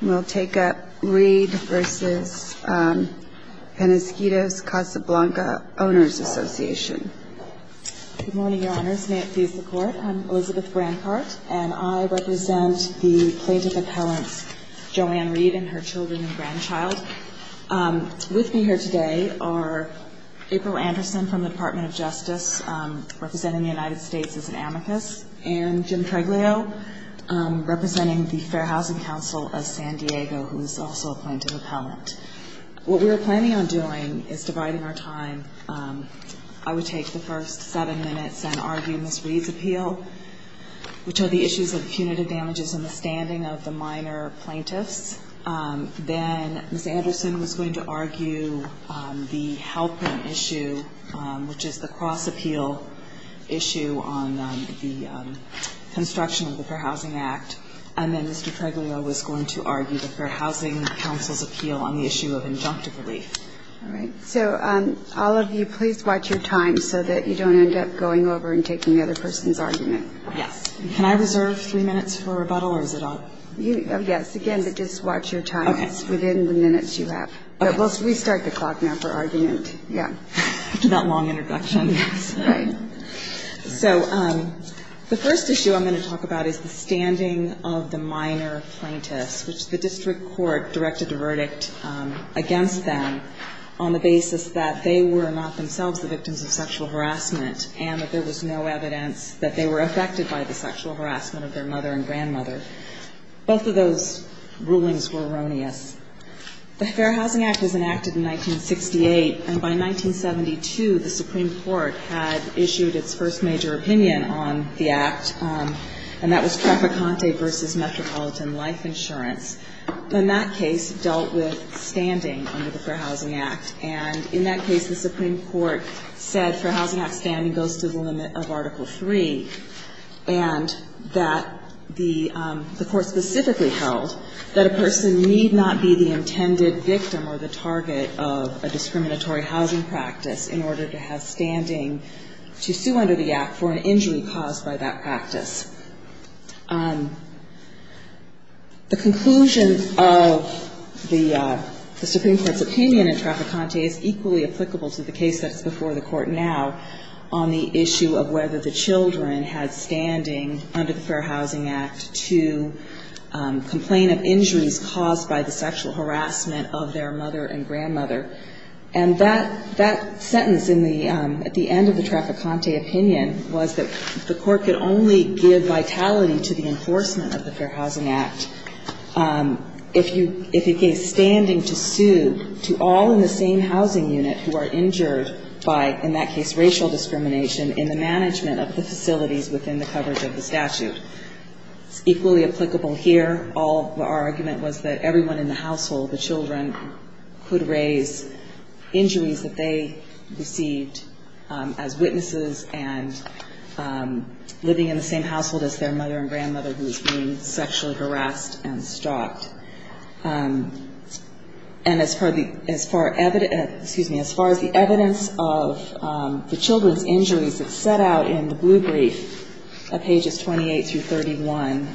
We'll take up Reed v. Penasquitos Casablanca Owners Association. Good morning, Your Honors. May it please the Court, I'm Elizabeth Brancart, and I represent the plaintiff appellants Joanne Reed and her children and grandchild. With me here today are April Anderson from the Department of Justice, representing the United States as an amicus, and Jim Treglio, representing the Fair Housing Council of San Diego, who is also a plaintiff appellant. What we're planning on doing is dividing our time. I would take the first seven minutes and argue Ms. Reed's appeal, which are the issues of punitive damages and the standing of the minor plaintiffs. Then Ms. Anderson was going to argue the Halpern issue, which is the cross appeal issue on the construction of the Fair Housing Act. And then Mr. Treglio was going to argue the Fair Housing Council's appeal on the issue of injunctive relief. So all of you, please watch your time so that you don't end up going over and taking the other person's argument. Yes. Can I reserve three minutes for rebuttal, or is it on? Yes, again, but just watch your time within the minutes you have. We start the clock now for argument. Yeah. That long introduction. So the first issue I'm going to talk about is the standing of the minor plaintiffs, which the district court directed a verdict against them on the basis that they were not themselves the victims of sexual harassment, and that there was no evidence that they were affected by the sexual harassment of their mother and grandmother. Both of those rulings were erroneous. The Fair Housing Act was enacted in 1968, and by 1972, the Supreme Court had issued its first major opinion on the act, and that was trafficante versus metropolitan life insurance. In that case, it dealt with standing under the Fair Housing Act. And in that case, the Supreme Court said Fair Housing Act standing goes to the limit of Article 3, and that the court specifically held that a person need not be the intended victim or the target of a discriminatory housing practice in order to have standing to sue under the act for an injury caused by that practice. The conclusion of the Supreme Court's opinion in trafficante is equally applicable to the case that's before the court now on the issue of whether the children had standing under the Fair Housing Act to complain of injuries caused by the sexual harassment of their mother and grandmother. And that sentence at the end of the trafficante opinion was that the court could only give vitality to the enforcement of the Fair Housing Act if it gave standing to sue to all in the same housing unit who are injured by, in that case, racial discrimination in the management of the facilities within the coverage of the statute. It's equally applicable here. Our argument was that everyone in the household, the children, could raise injuries that they received as witnesses and living in the same household as their mother and grandmother who was being sexually harassed and stalked. And as far as the evidence of the children's injuries that set out in the blue brief of pages 28 through 31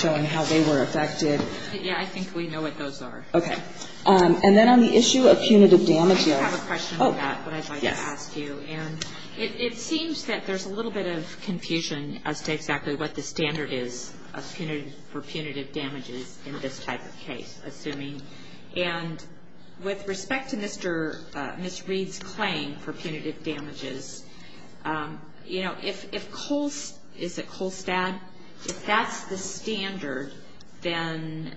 showing how they were affected. Yeah, I think we know what those are. And then on the issue of punitive damage, yeah. I have a question about that that I'd like to ask you. And it seems that there's a little bit of confusion as to exactly what the standard is for punitive damages in this type of case, assuming. And with respect to Ms. Reed's claim for punitive damages, you know, if Colstad, if that's the standard, then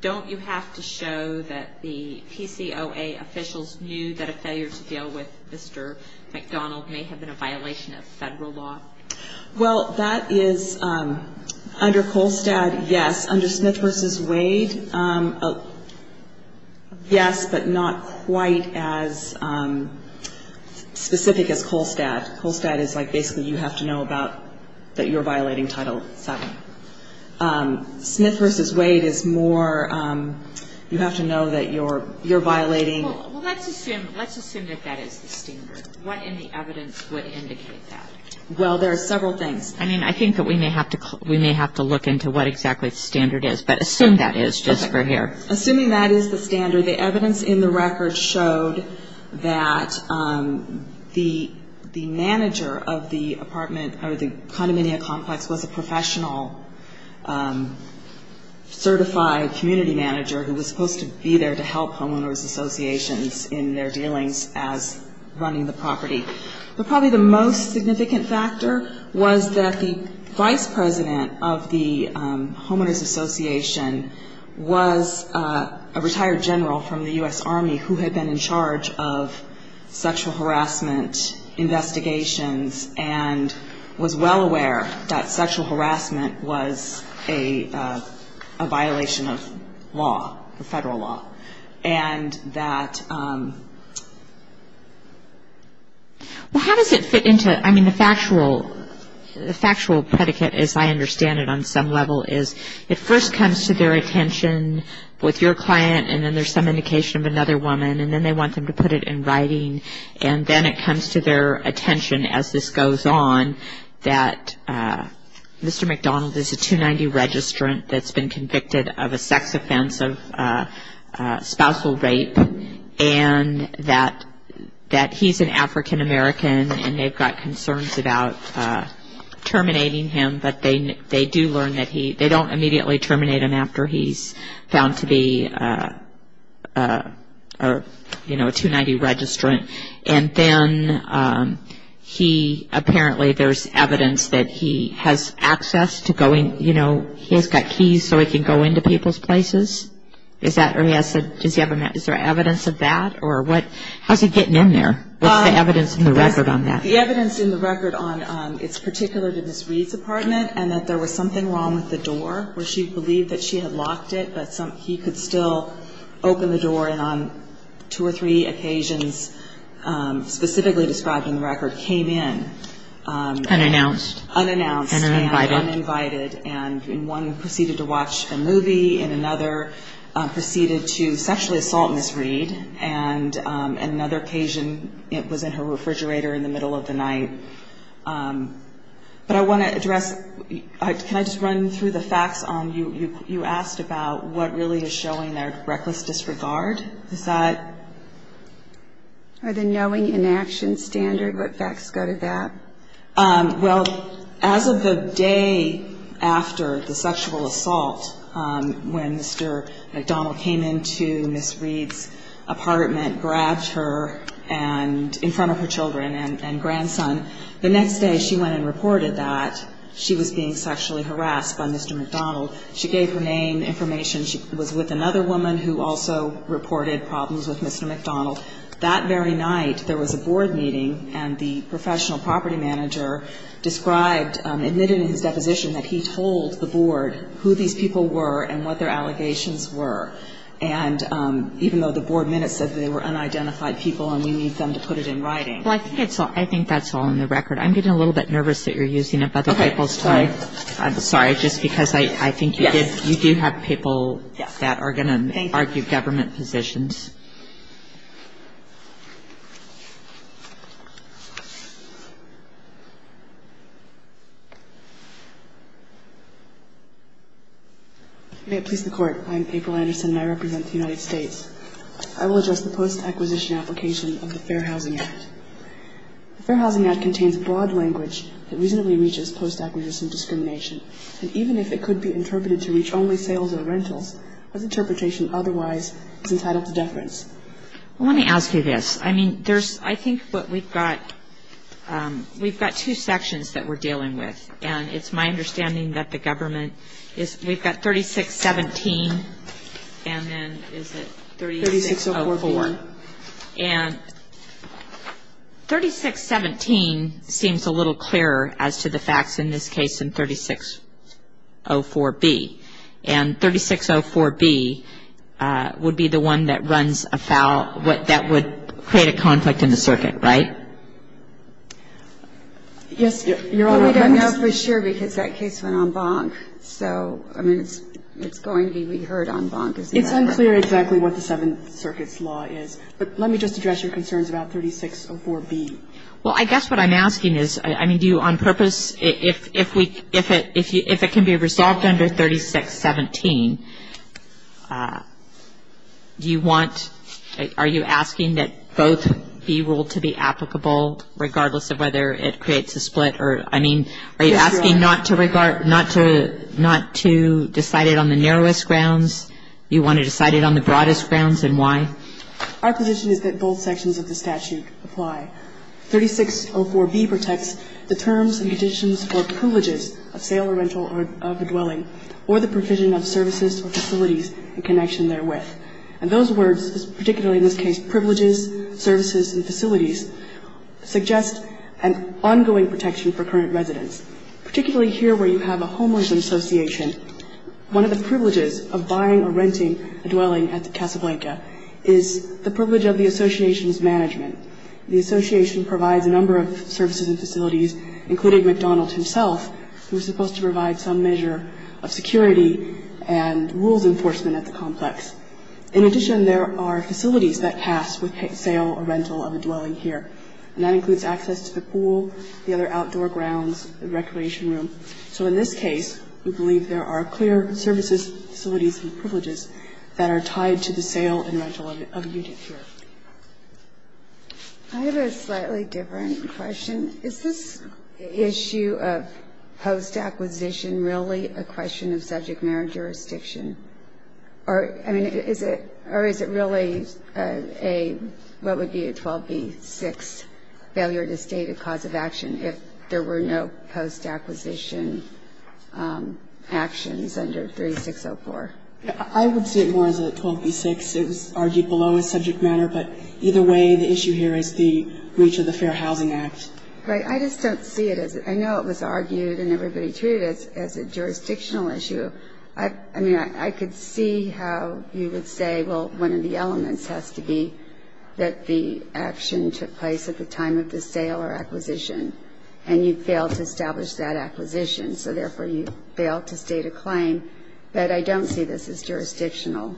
don't you have to show that the PCOA officials knew that a failure to deal with Mr. McDonald may have been a violation of federal law? Well, that is under Colstad, yes. Under Smith versus Wade, yes, but not quite as specific as Colstad. Colstad is like basically you have to know that you're violating Title VII. Smith versus Wade is more you have to know that you're violating. Well, let's assume that that is the standard. What in the evidence would indicate that? Well, there are several things. I mean, I think that we may have to look into what exactly the standard is. But assume that is, just for here. Assuming that is the standard, the evidence in the record showed that the manager of the condominia complex was a professional certified community manager who was supposed to be there to help homeowners associations in their dealings as running the property. But probably the most significant factor was that the vice president of the homeowners association was a retired general from the US Army who had been in charge of sexual harassment investigations and was well aware that sexual harassment was a violation of law, federal law. And that, well, how does it fit into, I mean, the factual predicate, as I understand it on some level, is it first comes to their attention with your client, and then there's some indication of another woman, and then they want them to put it in writing. And then it comes to their attention as this goes on that Mr. McDonald is a 290 registrant that's been convicted of a sex offense of spousal rape and that he's an African-American and they've got concerns about terminating him. But they do learn that he, they don't immediately terminate him after he's found to be a 290 registrant. And then he, apparently, there's evidence that he has access to going, he's got keys so he can go into people's places. Is that, or he has, is there evidence of that? Or what, how's he getting in there? What's the evidence in the record on that? The evidence in the record on, it's particular to Ms. Reed's apartment and that there was something wrong with the door where she believed that she had locked it, but he could still open the door. And on two or three occasions, specifically described in the record, came in. Unannounced. Unannounced and uninvited. And one proceeded to watch a movie and another proceeded to sexually assault Ms. Reed. And another occasion, it was in her refrigerator in the middle of the night. But I want to address, can I just run through the facts on, you asked about what really is showing their reckless disregard? Is that? Or the knowing inaction standard, what facts go to that? Well, as of the day after the sexual assault, when Mr. McDonald came into Ms. Reed's apartment, grabbed her in front of her children and grandson, the next day she went and reported that she was being sexually harassed by Mr. McDonald. She gave her name, information. She was with another woman who also reported problems with Mr. McDonald. That very night, there was a board meeting and the professional property manager described, admitted in his deposition that he told the board who these people were and what their allegations were. And even though the board minutes said they were unidentified people and we need them to put it in writing. Well, I think that's all in the record. I'm getting a little bit nervous that you're using up other people's time. I'm sorry. Just because I think you do have people that are going to argue government positions. May it please the court. I'm April Anderson and I represent the United States. I will address the post-acquisition application of the Fair Housing Act. The Fair Housing Act contains broad language that reasonably reaches post-acquisition discrimination. And even if it could be interpreted to reach only sales or rentals, that interpretation otherwise is entitled to deference. Let me ask you this. I mean, I think what we've got, we've got two sections that we're dealing with. And it's my understanding that the government is, we've got 3617 and then is it 3604. And 3617 seems a little clearer as to the facts in this case than 3604B. And 3604B would be the one that runs a foul, that would create a conflict in the circuit, right? Yes. You're all we don't know for sure because that case went on bonk. So I mean, it's going to be reheard on bonk. It's unclear exactly what the Seventh Circuit's law is. But let me just address your concerns about 3604B. Well, I guess what I'm asking is, I mean, do you on purpose, if it can be resolved under 3617, do you want, are you asking that both be ruled to be applicable regardless of whether it creates a split? Or I mean, are you asking not to regard, not to decide it on the narrowest grounds? You want to decide it on the broadest grounds and why? Our position is that both sections of the statute apply. 3604B protects the terms and conditions for privileges of sale or rental or of a dwelling or the provision of services or facilities in connection therewith. And those words, particularly in this case, privileges, services, and facilities, suggest an ongoing protection for current residents. Particularly here where you have a homeless association, one of the privileges of buying or renting a dwelling at the Casablanca is the privilege of the association's management. The association provides a number of services and facilities, including McDonald's himself, who's supposed to provide some measure of security and rules enforcement at the complex. In addition, there are facilities that pass with sale or rental of a dwelling here. And that includes access to the pool, the other outdoor grounds, the recreation room. So in this case, we believe there are clear services, facilities, and privileges that are tied to the sale and rental of a unit here. I have a slightly different question. Is this issue of post-acquisition really a question of subject matter jurisdiction? Or, I mean, is it or is it really a, what would be a 12b-6, failure to state a cause of action if there were no post-acquisition actions under 3604? I would see it more as a 12b-6. It was argued below as subject matter. But either way, the issue here is the breach of the Fair Housing Act. Right. I just don't see it as it. I know it was argued and everybody treated it as a jurisdictional issue. I mean, I could see how you would say, well, one of the elements has to be that the action took place at the time of the sale or acquisition. And you failed to establish that acquisition. So therefore, you failed to state a claim. But I don't see this as jurisdictional.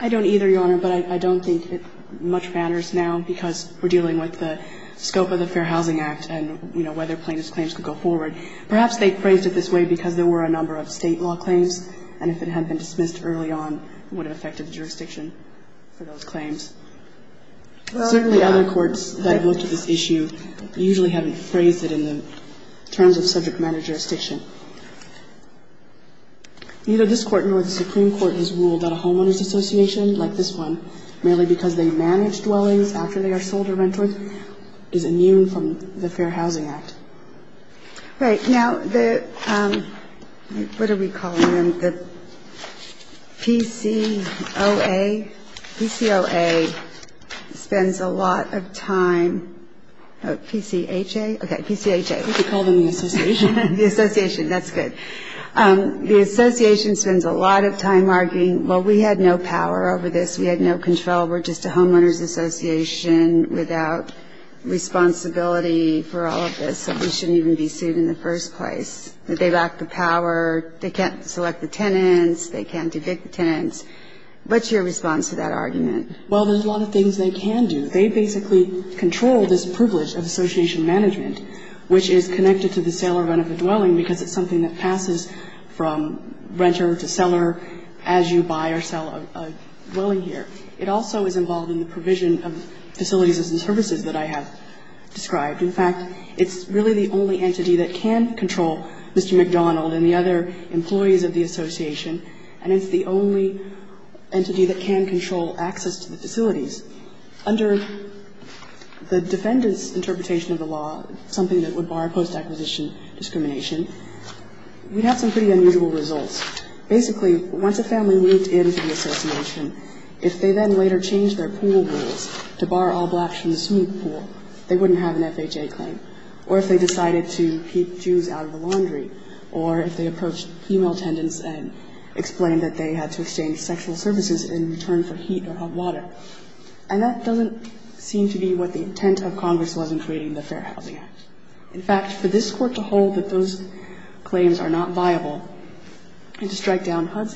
I don't either, Your Honor, but I don't think much matters now because we're dealing with the scope of the Fair Housing Act and, you know, whether plaintiff's claims could go forward. Perhaps they phrased it this way because there were a number of State law claims. And if it had been dismissed early on, it would have affected the jurisdiction for those claims. Certainly other courts that have looked at this issue usually haven't phrased it in the terms of subject matter jurisdiction. Neither this Court nor the Supreme Court has ruled that a homeowner's association, like this one, merely because they manage dwellings after they are sold or rented, is immune from the Fair Housing Act. Right. Now, the, what are we calling them, the PCOA, PCOA spends a lot of time, PCHA, okay, PCHA. We could call them the association. The association, that's good. The association spends a lot of time arguing, well, we had no power over this. We had no control. We're just a homeowner's association without responsibility for all of this. So we shouldn't even be sued in the first place, that they lack the power. They can't select the tenants. They can't evict the tenants. What's your response to that argument? Well, there's a lot of things they can do. They basically control this privilege of association management, which is connected to the sale or rent of a dwelling because it's something that passes from renter to seller as you buy or sell a dwelling here. It also is involved in the provision of facilities and services that I have described. In fact, it's really the only entity that can control Mr. McDonald and the other employees of the association, and it's the only entity that can control access to the facilities. Under the defendant's interpretation of the law, something that would bar post-acquisition discrimination, we have some pretty unusual results. Basically, once a family moved in to the association, if they then later changed their pool rules to bar all blacks from the swimming pool, they wouldn't have an FHA claim, or if they decided to keep Jews out of the laundry, or if they approached female tenants and explained that they had to abstain from sexual services in return for heat or hot water. And that doesn't seem to be what the intent of Congress was in creating the Fair Housing Act. In fact, for this Court to hold that those claims are not viable and to strike down Congress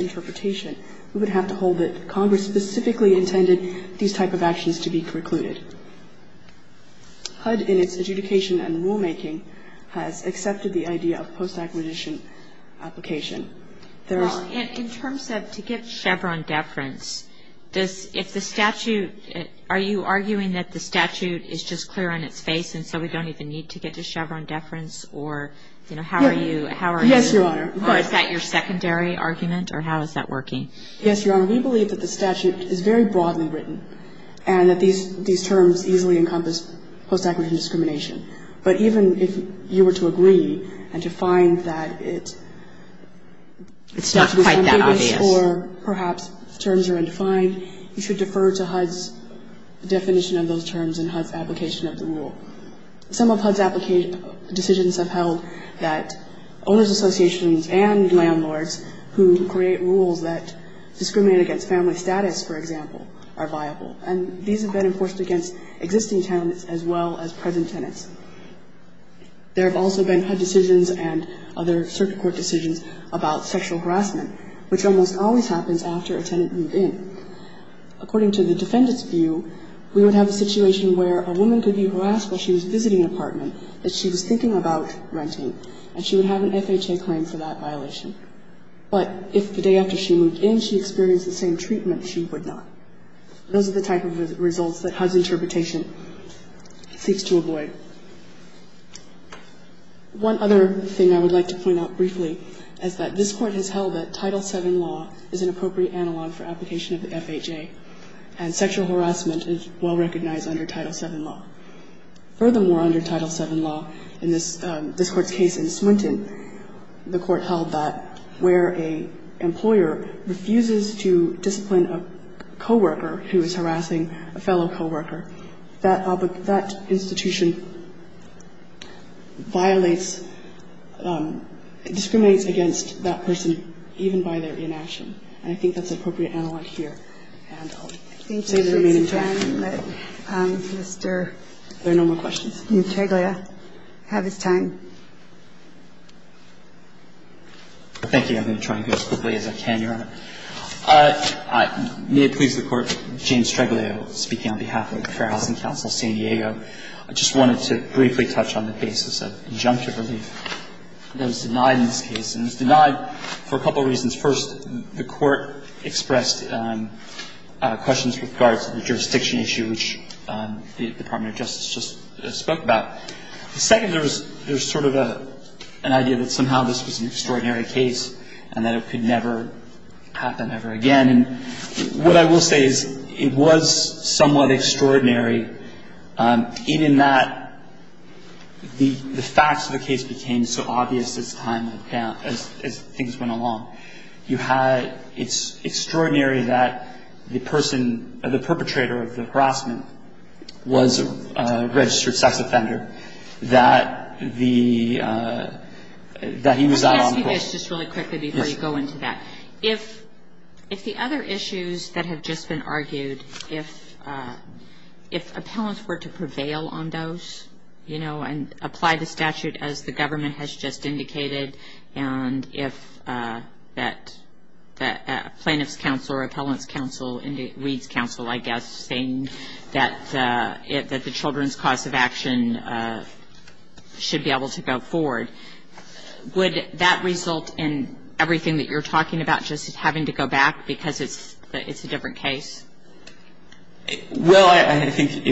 specifically intended these type of actions to be precluded. HUD, in its adjudication and rulemaking, has accepted the idea of post-acquisition application. There is — Kagan. In terms of to get Chevron deference, does — if the statute — are you arguing that the statute is just clear on its face and so we don't even need to get to Chevron deference, or, you know, how are you — Yes, Your Honor. Or is that your secondary argument, or how is that working? Yes, Your Honor. We believe that the statute is very broadly written and that these terms easily encompass post-acquisition discrimination. But even if you were to agree and to find that it's not quite that obvious or perhaps terms are undefined, you should defer to HUD's definition of those terms and HUD's application of the rule. Some of HUD's decisions have held that owners' associations and landlords who create rules that discriminate against family status, for example, are viable. And these have been enforced against existing tenants as well as present tenants. There have also been HUD decisions and other circuit court decisions about sexual harassment, which almost always happens after a tenant moved in. According to the defendant's view, we would have a situation where a woman could be harassed while she was visiting an apartment that she was thinking about renting, and she would have an FHA claim for that violation. But if the day after she moved in she experienced the same treatment, she would not. Those are the type of results that HUD's interpretation seeks to avoid. One other thing I would like to point out briefly is that this Court has held that Title VII law is an appropriate analog for application of the FHA, and sexual harassment is well recognized under Title VII law. Furthermore, under Title VII law, in this Court's case in Swinton, the Court held that where an employer refuses to discipline a co-worker who is harassing a fellow co-worker, that institution violates, discriminates against that person, even by their inaction. And I think that's an appropriate analog here. And I'll say that I remain in touch. MS. GOTTLIEB Thank you, Ms. Tan. Mr. MS. TAN There are no more questions. MS. GOTTLIEB Thank you. I'm going to try and go as quickly as I can, Your Honor. May it please the Court. James Streglio speaking on behalf of the Fair Housing Council of San Diego. I just wanted to briefly touch on the basis of injunctive relief that was denied in this case. And it was denied for a couple of reasons. First, the Court expressed questions with regard to the jurisdiction issue, which the Department of Justice just spoke about. The second, there was sort of an idea that somehow this was an extraordinary case. And that it could never happen ever again. And what I will say is, it was somewhat extraordinary, even that the facts of the case became so obvious as time went down, as things went along. You had – it's extraordinary that the person, the perpetrator of the harassment, was a registered sex offender, that the – that he was out on the coast. I'll ask you guys just really quickly before you go into that. If the other issues that have just been argued, if appellants were to prevail on those, you know, and apply the statute as the government has just indicated, and if that – plaintiff's counsel or appellant's counsel – Reid's counsel, I guess – saying that the children's cause of action should be able to go forward, would that result in everything that you're talking about just having to go back because it's a different case? Well, I think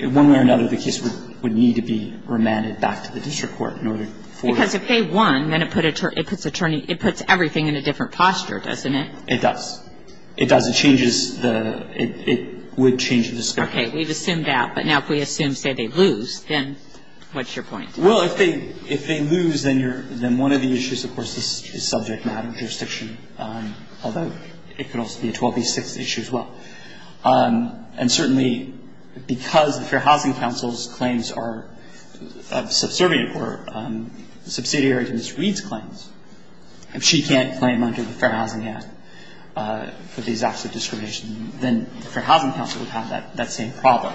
in one way or another, the case would need to be remanded back to the district court in order for – Because if they won, then it puts attorney – it puts everything in a different posture, doesn't it? It does. It does. It changes the – it would change the discussion. Okay. We've assumed that. But now if we assume, say, they lose, then what's your point? Well, if they lose, then you're – then one of the issues, of course, is subject matter jurisdiction, although it could also be a 12B6 issue as well. And certainly, because the Fair Housing Council's claims are subservient or subsidiary to Ms. Reid's claims, if she can't claim under the Fair Housing Act for these acts of discrimination, then the Fair Housing Council would have that same problem.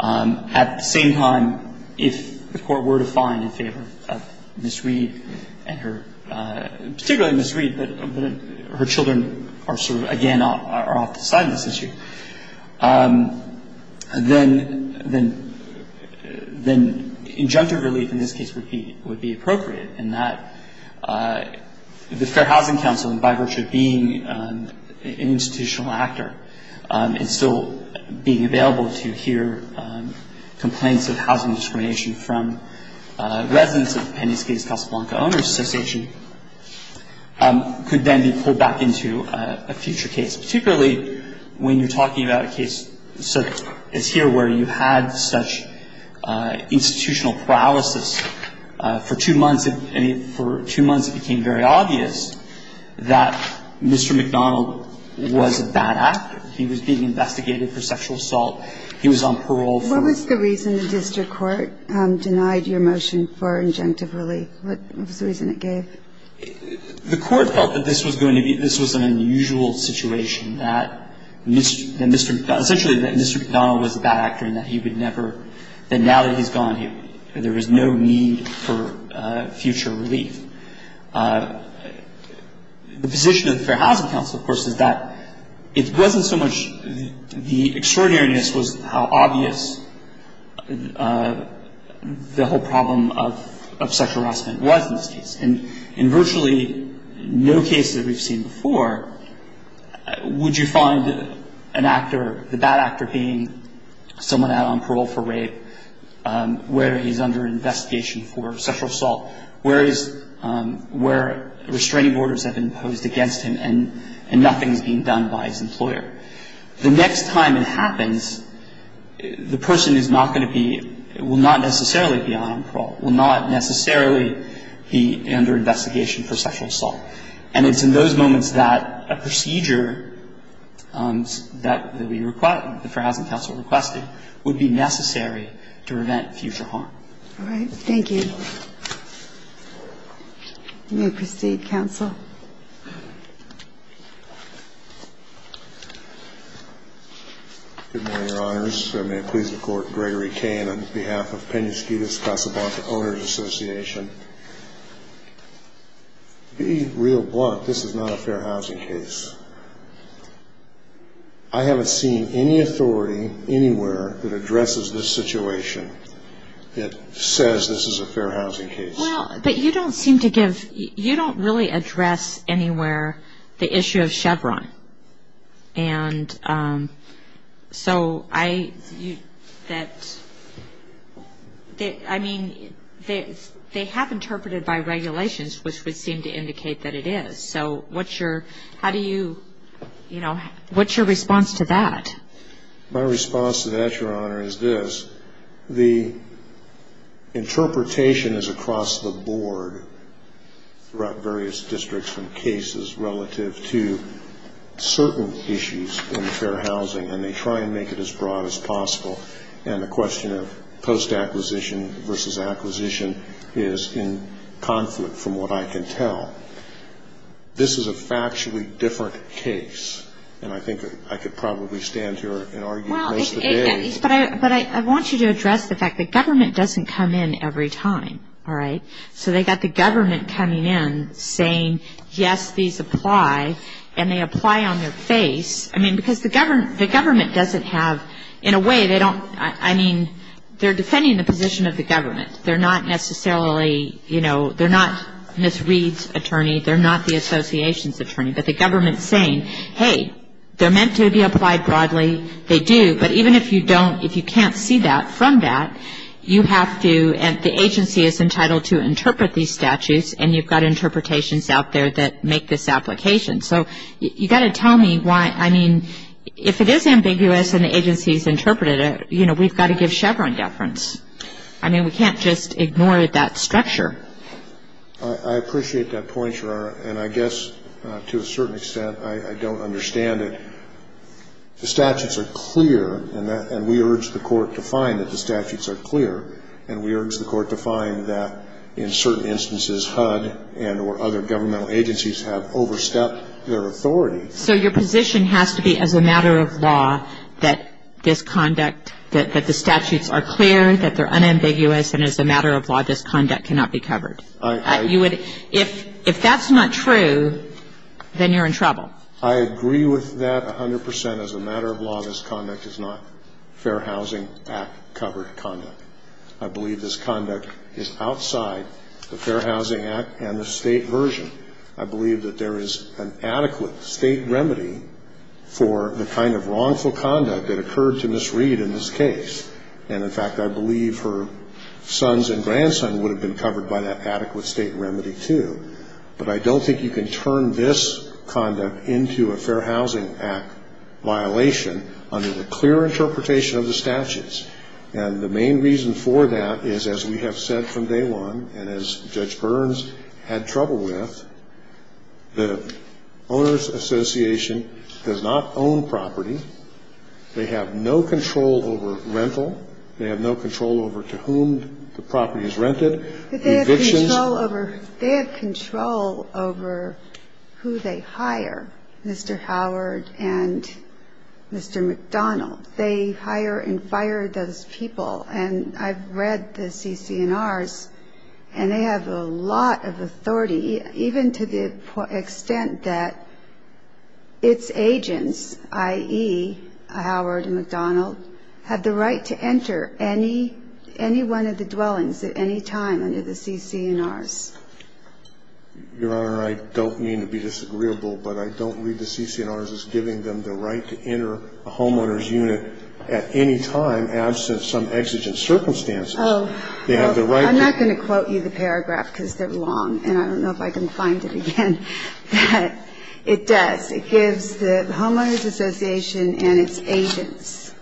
At the same time, if the court were to find in favor of Ms. Reid and her – particularly Ms. Reid, but her children are sort of, again, are off the side of this issue, then – then injunctive relief in this case would be appropriate in that the Fair Housing Council, and by virtue of being an institutional actor and still being available to hear complaints of housing discrimination from residents of Penney's Case Casablanca Owners Association, could then be pulled back into a future case, particularly when you're talking about a case such as here where you had such institutional paralysis for two months, and for two months it became very obvious that Mr. McDonnell was a bad actor. He was being investigated for sexual assault. He was on parole for – What was the reason the district court denied your motion for injunctive relief? What was the reason it gave? The court felt that this was going to be – this was an unusual situation, that Mr. – essentially that Mr. McDonnell was a bad actor and that he would never – that now that he's gone, there is no need for future relief. The position of the Fair Housing Council, of course, is that it wasn't so much – the extraordinariness was how obvious the whole problem of sexual harassment was in this case. And in virtually no case that we've seen before would you find an actor – the bad actor being someone out on parole for rape, where he's under investigation for sexual assault, where he's – where restraining orders have been imposed against him and nothing's being done by his employer. The next time it happens, the person is not going to be – will not necessarily be out on parole, will not necessarily be under investigation for sexual assault. And it's in those moments that a procedure that we – the Fair Housing Council requested would be necessary to prevent future harm. All right. Thank you. You may proceed, Counsel. Good morning, Your Honors. May it please the Court, Gregory Cain on behalf of Penasquitas Casablanca Owners Association. To be real blunt, this is not a fair housing case. I haven't seen any authority anywhere that addresses this situation that says this is a fair housing case. Well, but you don't seem to give – you don't really address anywhere the issue of Chevron. And so I – that – I mean, they have interpreted by regulations, which would seem to indicate that it is. So what's your – how do you – you know, what's your response to that? My response to that, Your Honor, is this. The interpretation is across the board throughout various districts and cases relative to certain issues in fair housing. And they try and make it as broad as possible. And the question of post-acquisition versus acquisition is in conflict from what I can tell. This is a factually different case. And I think I could probably stand here and argue most of the day. But I want you to address the fact that government doesn't come in every time. All right? So they've got the government coming in saying, yes, these apply. And they apply on their face. I mean, because the government doesn't have – in a way, they don't – I mean, they're defending the position of the government. They're not necessarily – you know, they're not Ms. Reed's attorney. They're not the association's attorney. But the government is saying, hey, they're meant to be applied broadly. They do. But even if you don't – if you can't see that from that, you have to – and the agency is entitled to interpret these statutes. And you've got interpretations out there that make this application. So you've got to tell me why – I mean, if it is ambiguous and the agency has interpreted it, you know, we've got to give Chevron deference. I mean, we can't just ignore that structure. I appreciate that point, Sharara, and I guess to a certain extent I don't understand it. The statutes are clear, and we urge the court to find that the statutes are clear. And we urge the court to find that in certain instances HUD and or other governmental agencies have overstepped their authority. So your position has to be as a matter of law that this conduct – that the statutes are clear, that they're unambiguous, and as a matter of law this conduct cannot be covered. You would – if that's not true, then you're in trouble. I agree with that 100 percent. As a matter of law, this conduct is not Fair Housing Act-covered conduct. I believe this conduct is outside the Fair Housing Act and the state version. I believe that there is an adequate state remedy for the kind of wrongful conduct that occurred to Ms. Reed in this case. And, in fact, I believe her sons and grandson would have been covered by that adequate state remedy, too. But I don't think you can turn this conduct into a Fair Housing Act violation under the clear interpretation of the statutes. And the main reason for that is, as we have said from day one, and as Judge Burns had trouble with, the Owners Association does not own property. They have no control over rental. They have no control over to whom the property is rented. The evictions. They have control over who they hire, Mr. Howard and Mr. McDonald. They hire and fire those people. And I've read the CC&Rs, and they have a lot of authority, even to the extent that its agents, i.e., Howard and McDonald, have the right to enter any one of the dwellings at any time under the CC&Rs. Your Honor, I don't mean to be disagreeable, but I don't read the CC&Rs as giving them the right to enter a homeowner's unit at any time, absent some exigent circumstances. They have the right to enter a homeowner's unit. I'm not going to quote you the paragraph because they're long, and I don't know if I can find it again. But it does. It gives the Homeowners Association and its agents.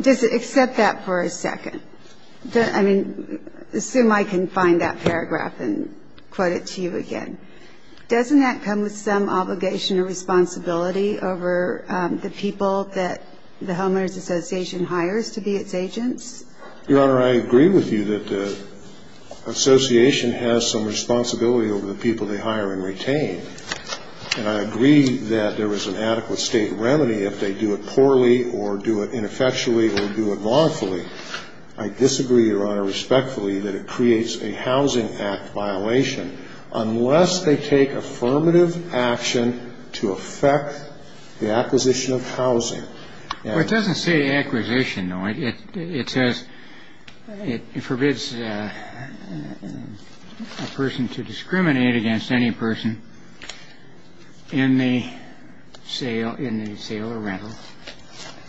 Does it accept that for a second? I mean, assume I can find that paragraph and quote it to you again. Doesn't that come with some obligation or responsibility over the people that the Homeowners Association hires to be its agents? Your Honor, I agree with you that the association has some responsibility over the people they hire and retain. And I agree that there is an adequate state remedy if they do it poorly or do it ineffectually or do it wrongfully. I disagree, Your Honor, respectfully that it creates a Housing Act violation unless they take affirmative action to affect the acquisition of housing. Well, it doesn't say acquisition, though. It says it forbids a person to discriminate against any person in the sale, in the sale or rental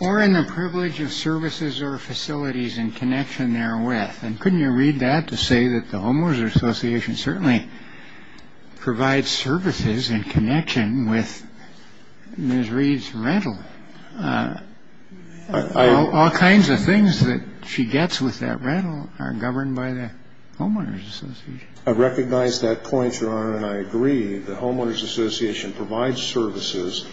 or in the privilege of services or facilities in connection therewith. And couldn't you read that to say that the Homeowners Association certainly provides services in connection with Ms. All kinds of things that she gets with that rental are governed by the Homeowners Association. I recognize that point, Your Honor, and I agree. The Homeowners Association provides services.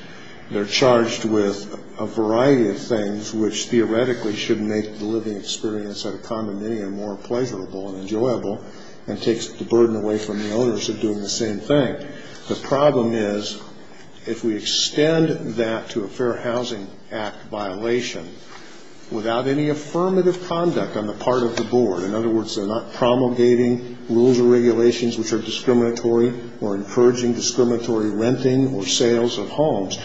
They're charged with a variety of things, which theoretically should make the living experience at a condominium more pleasurable and enjoyable and takes the burden away from the owners of doing the same thing. The problem is if we extend that to a Fair Housing Act violation without any affirmative conduct on the part of the board, in other words, they're not promulgating rules or regulations which are discriminatory or encouraging discriminatory renting or sales of homes,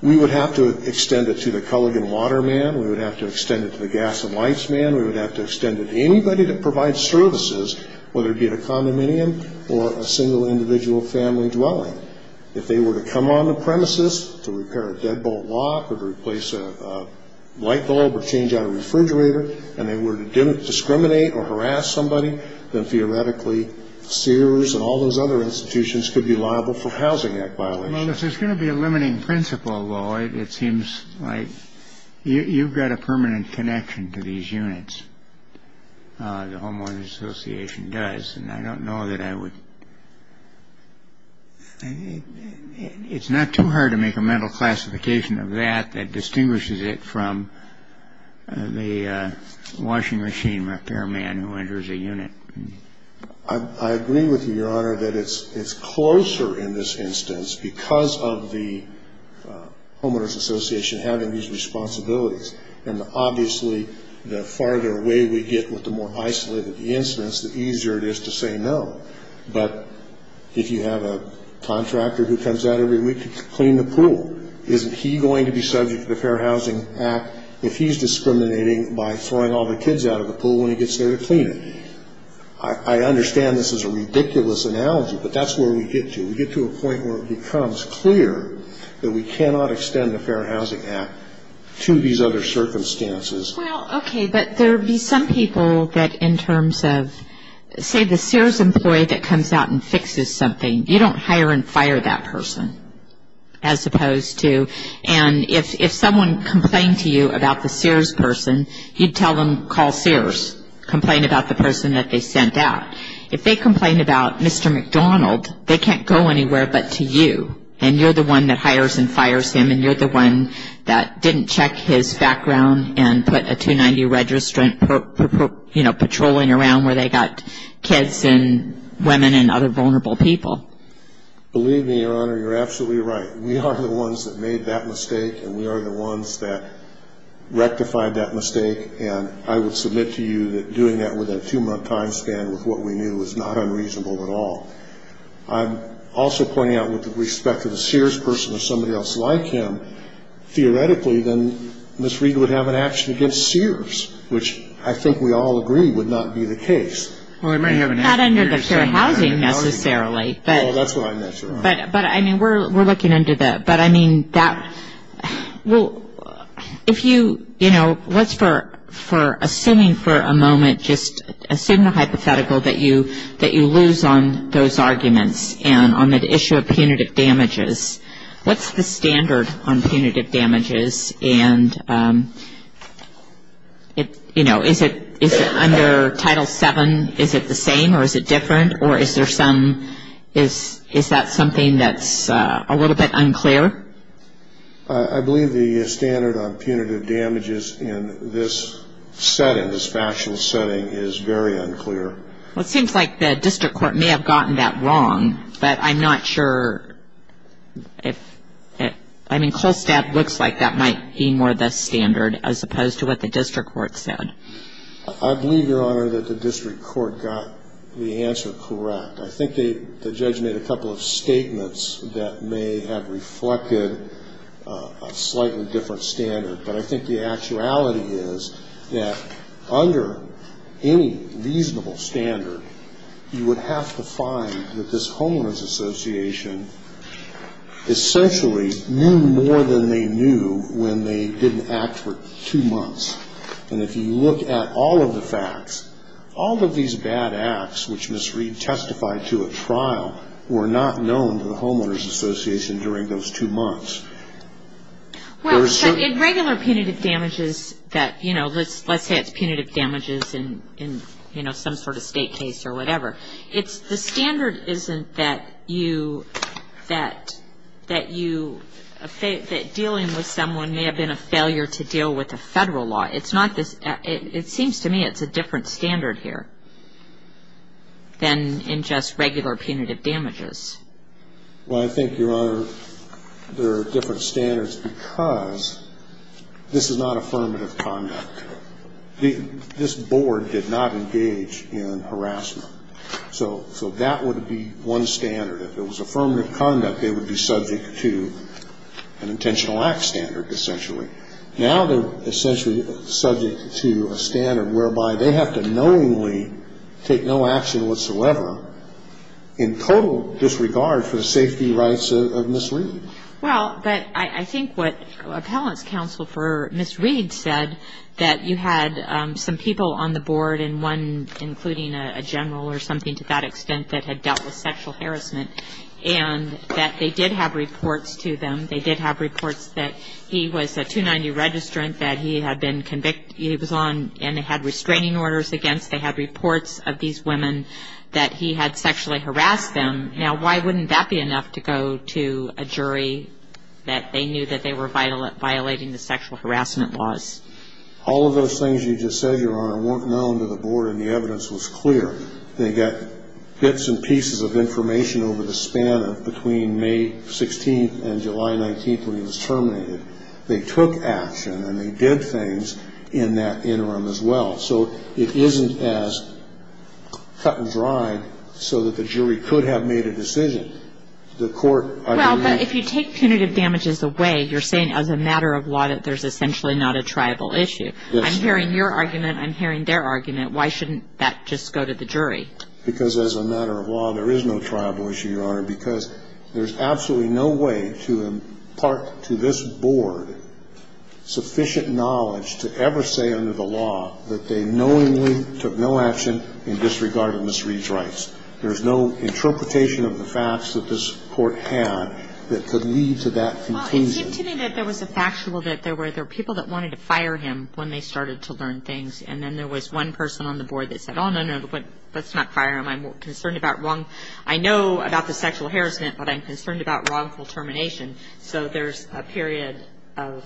we would have to extend it to the Kulligan water man. We would have to extend it to the gas and lights man. We would have to extend it to anybody that provides services, whether it be at a condominium or a single individual family dwelling. If they were to come on the premises to repair a deadbolt lock or to replace a light bulb or change out a refrigerator and they were to discriminate or harass somebody, then theoretically Sears and all those other institutions could be liable for Housing Act violations. Well, this is going to be a limiting principle. Well, it seems like you've got a permanent connection to these units. The homeowners association does. And I don't know that I would. It's not too hard to make a mental classification of that that distinguishes it from the washing machine repair man who enters a unit. I agree with you, Your Honor, that it's closer in this instance because of the homeowners association having these responsibilities. And obviously the farther away we get with the more isolated the instance, the easier it is to say no. But if you have a contractor who comes out every week to clean the pool, isn't he going to be subject to the Fair Housing Act if he's discriminating by throwing all the kids out of the pool when he gets there to clean it? I understand this is a ridiculous analogy, but that's where we get to. We get to a point where it becomes clear that we cannot extend the Fair Housing Act to these other circumstances. Well, okay, but there would be some people that in terms of, say, the Sears employee that comes out and fixes something, you don't hire and fire that person as opposed to, and if someone complained to you about the Sears person, you'd tell them call Sears, complain about the person that they sent out. If they complain about Mr. McDonald, they can't go anywhere but to you, and you're the one that hires and fires him, and you're the one that didn't check his background and put a 290 registrant, you know, patrolling around where they got kids and women and other vulnerable people. Believe me, Your Honor, you're absolutely right. We are the ones that made that mistake, and we are the ones that rectified that mistake, and I would submit to you that doing that within a two-month time span with what we knew is not unreasonable at all. I'm also pointing out with respect to the Sears person or somebody else like him, theoretically then Ms. Reed would have an action against Sears, which I think we all agree would not be the case. Well, it might have an action against Sears. Not under the Fair Housing necessarily. No, that's what I meant, Your Honor. But, I mean, we're looking into that. But, I mean, that, well, if you, you know, what's for assuming for a moment, just assume the hypothetical that you lose on those arguments and on the issue of punitive damages. What's the standard on punitive damages? And, you know, is it under Title VII, is it the same or is it different? Or is there some, is that something that's a little bit unclear? I believe the standard on punitive damages in this setting, this factual setting, is very unclear. Well, it seems like the district court may have gotten that wrong, but I'm not sure if, I mean, Colstab looks like that might be more the standard as opposed to what the district court said. I believe, Your Honor, that the district court got the answer correct. I think they, the judge made a couple of statements that may have reflected a slightly different standard. But I think the actuality is that under any reasonable standard, you would have to find that this homeless association essentially knew more than they knew when they didn't act for two months. And if you look at all of the facts, all of these bad acts which Ms. Reed testified to at trial were not known to the homeowners association during those two months. Well, in regular punitive damages that, you know, let's say it's punitive damages in, you know, some sort of state case or whatever, it's the standard isn't that you, that you, that dealing with someone may have been a failure to deal with a federal law. It's not this, it seems to me it's a different standard here than in just regular punitive damages. Well, I think, Your Honor, there are different standards because this is not affirmative conduct. So that would be one standard. If it was affirmative conduct, they would be subject to an intentional act standard essentially. Now they're essentially subject to a standard whereby they have to knowingly take no action whatsoever in total disregard for the safety rights of Ms. Reed. Well, but I think what appellant's counsel for Ms. Reed said that you had some people on the board and one including a general or something to that extent that had dealt with sexual harassment and that they did have reports to them, they did have reports that he was a 290 registrant, that he had been convicted, he was on and they had restraining orders against, they had reports of these women that he had sexually harassed them. Now why wouldn't that be enough to go to a jury that they knew that they were violating the sexual harassment laws? All of those things you just said, Your Honor, weren't known to the board and the evidence was clear. They got bits and pieces of information over the span of between May 16th and July 19th when he was terminated. They took action and they did things in that interim as well. So it isn't as cut and dried so that the jury could have made a decision. The court, I don't know. Well, but if you take punitive damages away, you're saying as a matter of law that there's essentially not a triable issue. Yes. I'm hearing your argument. I'm hearing their argument. Why shouldn't that just go to the jury? Because as a matter of law, there is no triable issue, Your Honor, because there's absolutely no way to impart to this board sufficient knowledge to ever say under the law that they knowingly took no action in disregard of Ms. Reed's rights. There's no interpretation of the facts that this court had that could lead to that conclusion. Well, it seemed to me that there was a factual that there were people that wanted to fire him when they started to learn things and then there was one person on the board that said, oh, no, no, let's not fire him. I'm concerned about wrong. I know about the sexual harassment, but I'm concerned about wrongful termination. So there's a period of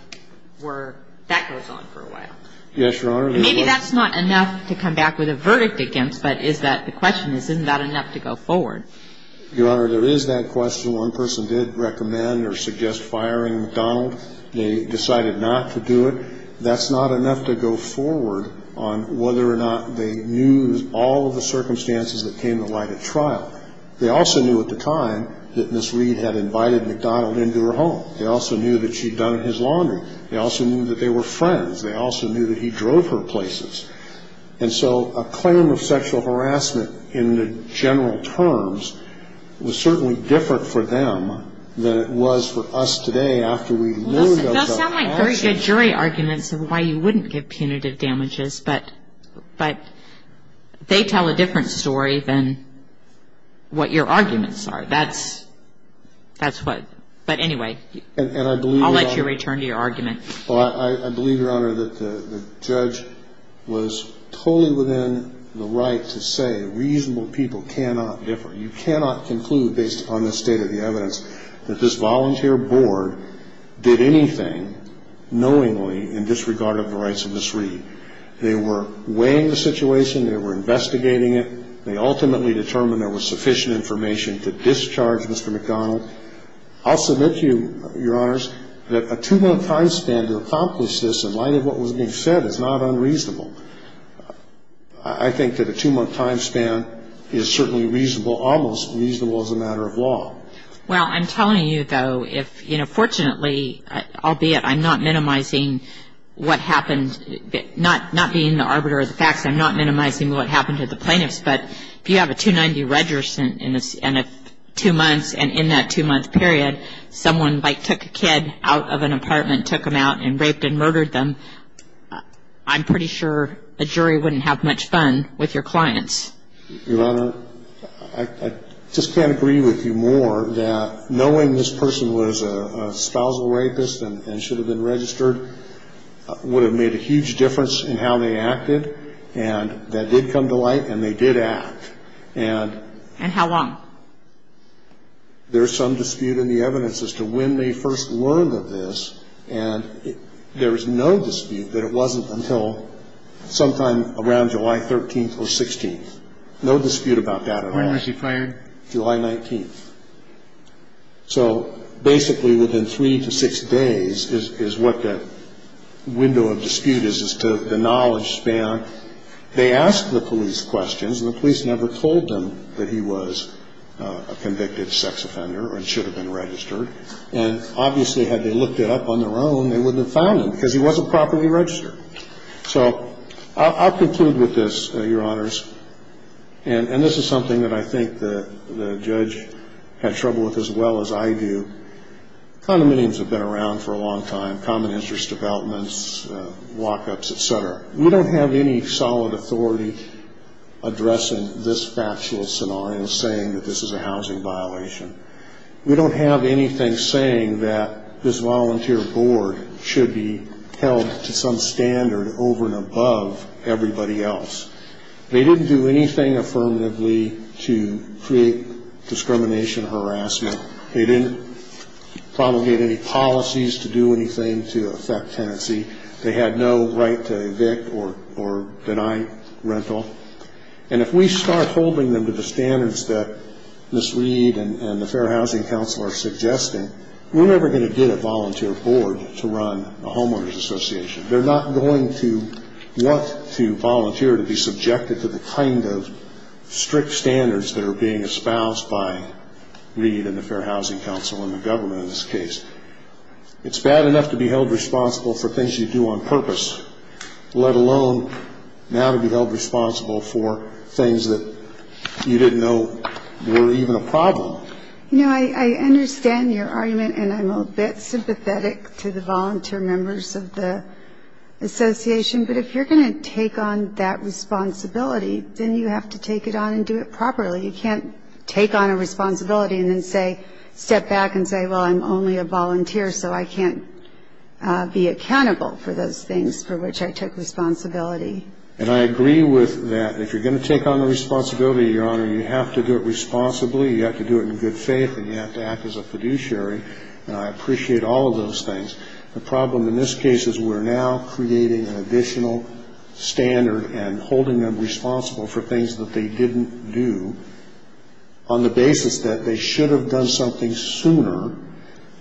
where that goes on for a while. Yes, Your Honor. Maybe that's not enough to come back with a verdict against, but the question is, isn't that enough to go forward? Your Honor, there is that question. One person did recommend or suggest firing McDonald. They decided not to do it. That's not enough to go forward on whether or not they knew all of the circumstances that came to light at trial. They also knew at the time that Ms. Reed had invited McDonald into her home. They also knew that she'd done his laundry. They also knew that they were friends. They also knew that he drove her places. And so a claim of sexual harassment in the general terms was certainly different for them than it was for us today after we learned about the lawsuit. Those sound like very good jury arguments of why you wouldn't give punitive damages, but they tell a different story than what your arguments are. That's what – but anyway, I'll let you return to your argument. Well, I believe, Your Honor, that the judge was totally within the right to say reasonable people cannot differ. You cannot conclude based upon this state of the evidence that this volunteer board did anything knowingly in disregard of the rights of Ms. Reed. They were weighing the situation. They were investigating it. They ultimately determined there was sufficient information to discharge Mr. McDonald. I'll submit to you, Your Honors, that a two-month time span to accomplish this in light of what was being said is not unreasonable. I think that a two-month time span is certainly reasonable, almost reasonable as a matter of law. Well, I'm telling you, though, if, you know, fortunately, albeit I'm not minimizing what happened, not being the arbiter of the facts, I'm not minimizing what happened to the plaintiffs. But if you have a 290 register in two months and in that two-month period someone, like, took a kid out of an apartment, took them out and raped and murdered them, I'm pretty sure a jury wouldn't have much fun with your clients. Your Honor, I just can't agree with you more that knowing this person was a spousal rapist and should have been registered would have made a huge difference in how they acted. And I think it's fair to say that there is some dispute in the evidence as to when they first learned of this. And there is no dispute that it wasn't until sometime around July 13th or 16th. No dispute about that at all. When was he fired? July 19th. So basically within three to six days is what the window of dispute is, to the knowledge span. They asked the police questions, and the police never told them that he was a convicted sex offender and should have been registered. And obviously had they looked it up on their own, they wouldn't have found him because he wasn't properly registered. So I'll conclude with this, Your Honors. And this is something that I think the judge had trouble with as well as I do. Condominiums have been around for a long time, common interest developments, lockups, et cetera. We don't have any solid authority addressing this factual scenario saying that this is a housing violation. We don't have anything saying that this volunteer board should be held to some standard over and above everybody else. They didn't do anything affirmatively to create discrimination and harassment. They didn't promulgate any policies to do anything to affect tenancy. They had no right to evict or deny rental. And if we start holding them to the standards that Ms. Reed and the Fair Housing Council are suggesting, we're never going to get a volunteer board to run a homeowners association. They're not going to want to volunteer to be subjected to the kind of strict standards that are being espoused by Reed and the Fair Housing Council and the government in this case. It's bad enough to be held responsible for things you do on purpose, let alone now to be held responsible for things that you didn't know were even a problem. You know, I understand your argument, and I'm a bit sympathetic to the volunteer members of the association. But if you're going to take on that responsibility, then you have to take it on and do it properly. You can't take on a responsibility and then step back and say, well, I'm only a volunteer, so I can't be accountable for those things for which I took responsibility. And I agree with that. If you're going to take on the responsibility, Your Honor, you have to do it responsibly, you have to do it in good faith, and you have to act as a fiduciary. And I appreciate all of those things. The problem in this case is we're now creating an additional standard and holding them responsible for things that they didn't do on the basis that they should have done something sooner.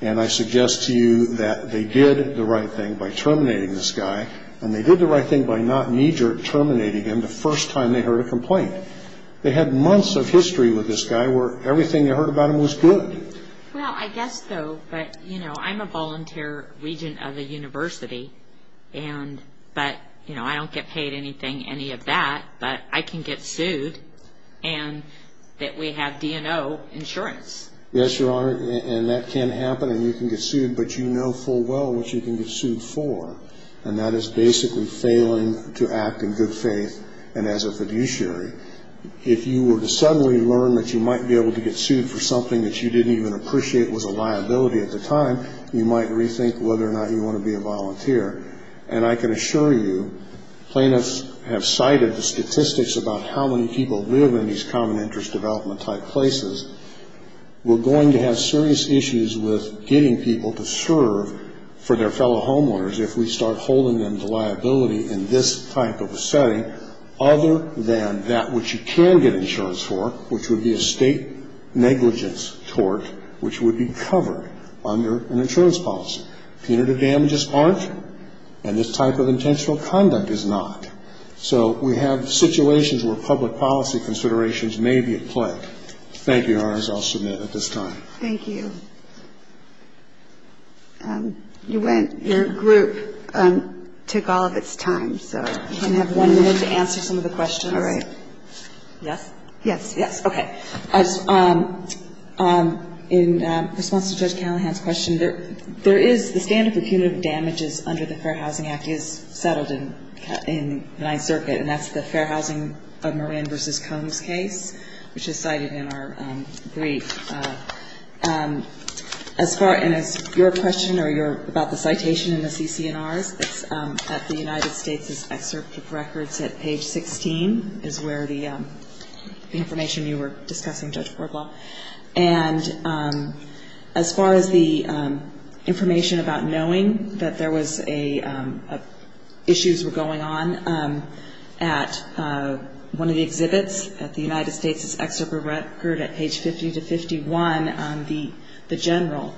And I suggest to you that they did the right thing by terminating this guy, and they did the right thing by not knee-jerk terminating him the first time they heard a complaint. They had months of history with this guy where everything they heard about him was good. Well, I guess so, but, you know, I'm a volunteer regent of a university, but I don't get paid anything, any of that, but I can get sued and that we have D&O insurance. Yes, Your Honor, and that can happen and you can get sued, but you know full well what you can get sued for, and that is basically failing to act in good faith and as a fiduciary. If you were to suddenly learn that you might be able to get sued for something that you didn't even appreciate was a liability at the time, you might rethink whether or not you want to be a volunteer. And I can assure you plaintiffs have cited the statistics about how many people live in these common interest development type places. We're going to have serious issues with getting people to serve for their fellow homeowners if we start holding them to liability in this type of a setting, other than that which you can get insurance for, which would be a state negligence tort, which would be covered under an insurance policy. Punitive damages aren't, and this type of intentional conduct is not. So we have situations where public policy considerations may be at play. Thank you, Your Honors. I'll submit at this time. Thank you. Your group took all of its time, so you can have one minute to answer some of the questions. All right. Yes? Yes. Yes. Okay. In response to Judge Callahan's question, there is the standard for punitive damages under the Fair Housing Act is settled in the Ninth Circuit, and that's the Fair Housing of Marin v. Combs case, which is cited in our brief. As far as your question about the citation in the CCNRs, it's at the United States' Excerpt of Records at page 16 is where the information you were discussing, and as far as the information about knowing that there was a, issues were going on at one of the exhibits at the United States' Excerpt of Records at page 50-51, the general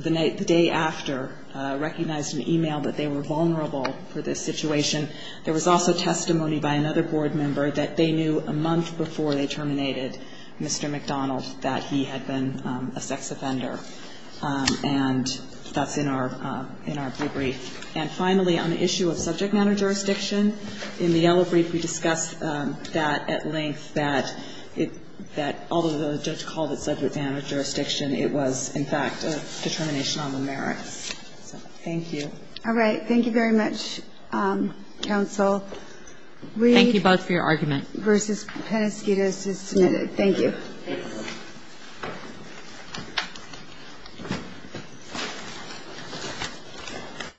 the day after recognized in an e-mail that they were vulnerable for this situation. There was also testimony by another board member that they knew a month before they terminated Mr. McDonald that he had been a sex offender, and that's in our brief. And finally, on the issue of subject matter jurisdiction, in the yellow brief, we discussed that at length that although the judge called it subject matter jurisdiction, it was, in fact, a determination on the merits. So thank you. All right. Thank you very much, counsel. Thank you both for your argument. Versus Penasquitos is submitted. Thank you. Thanks.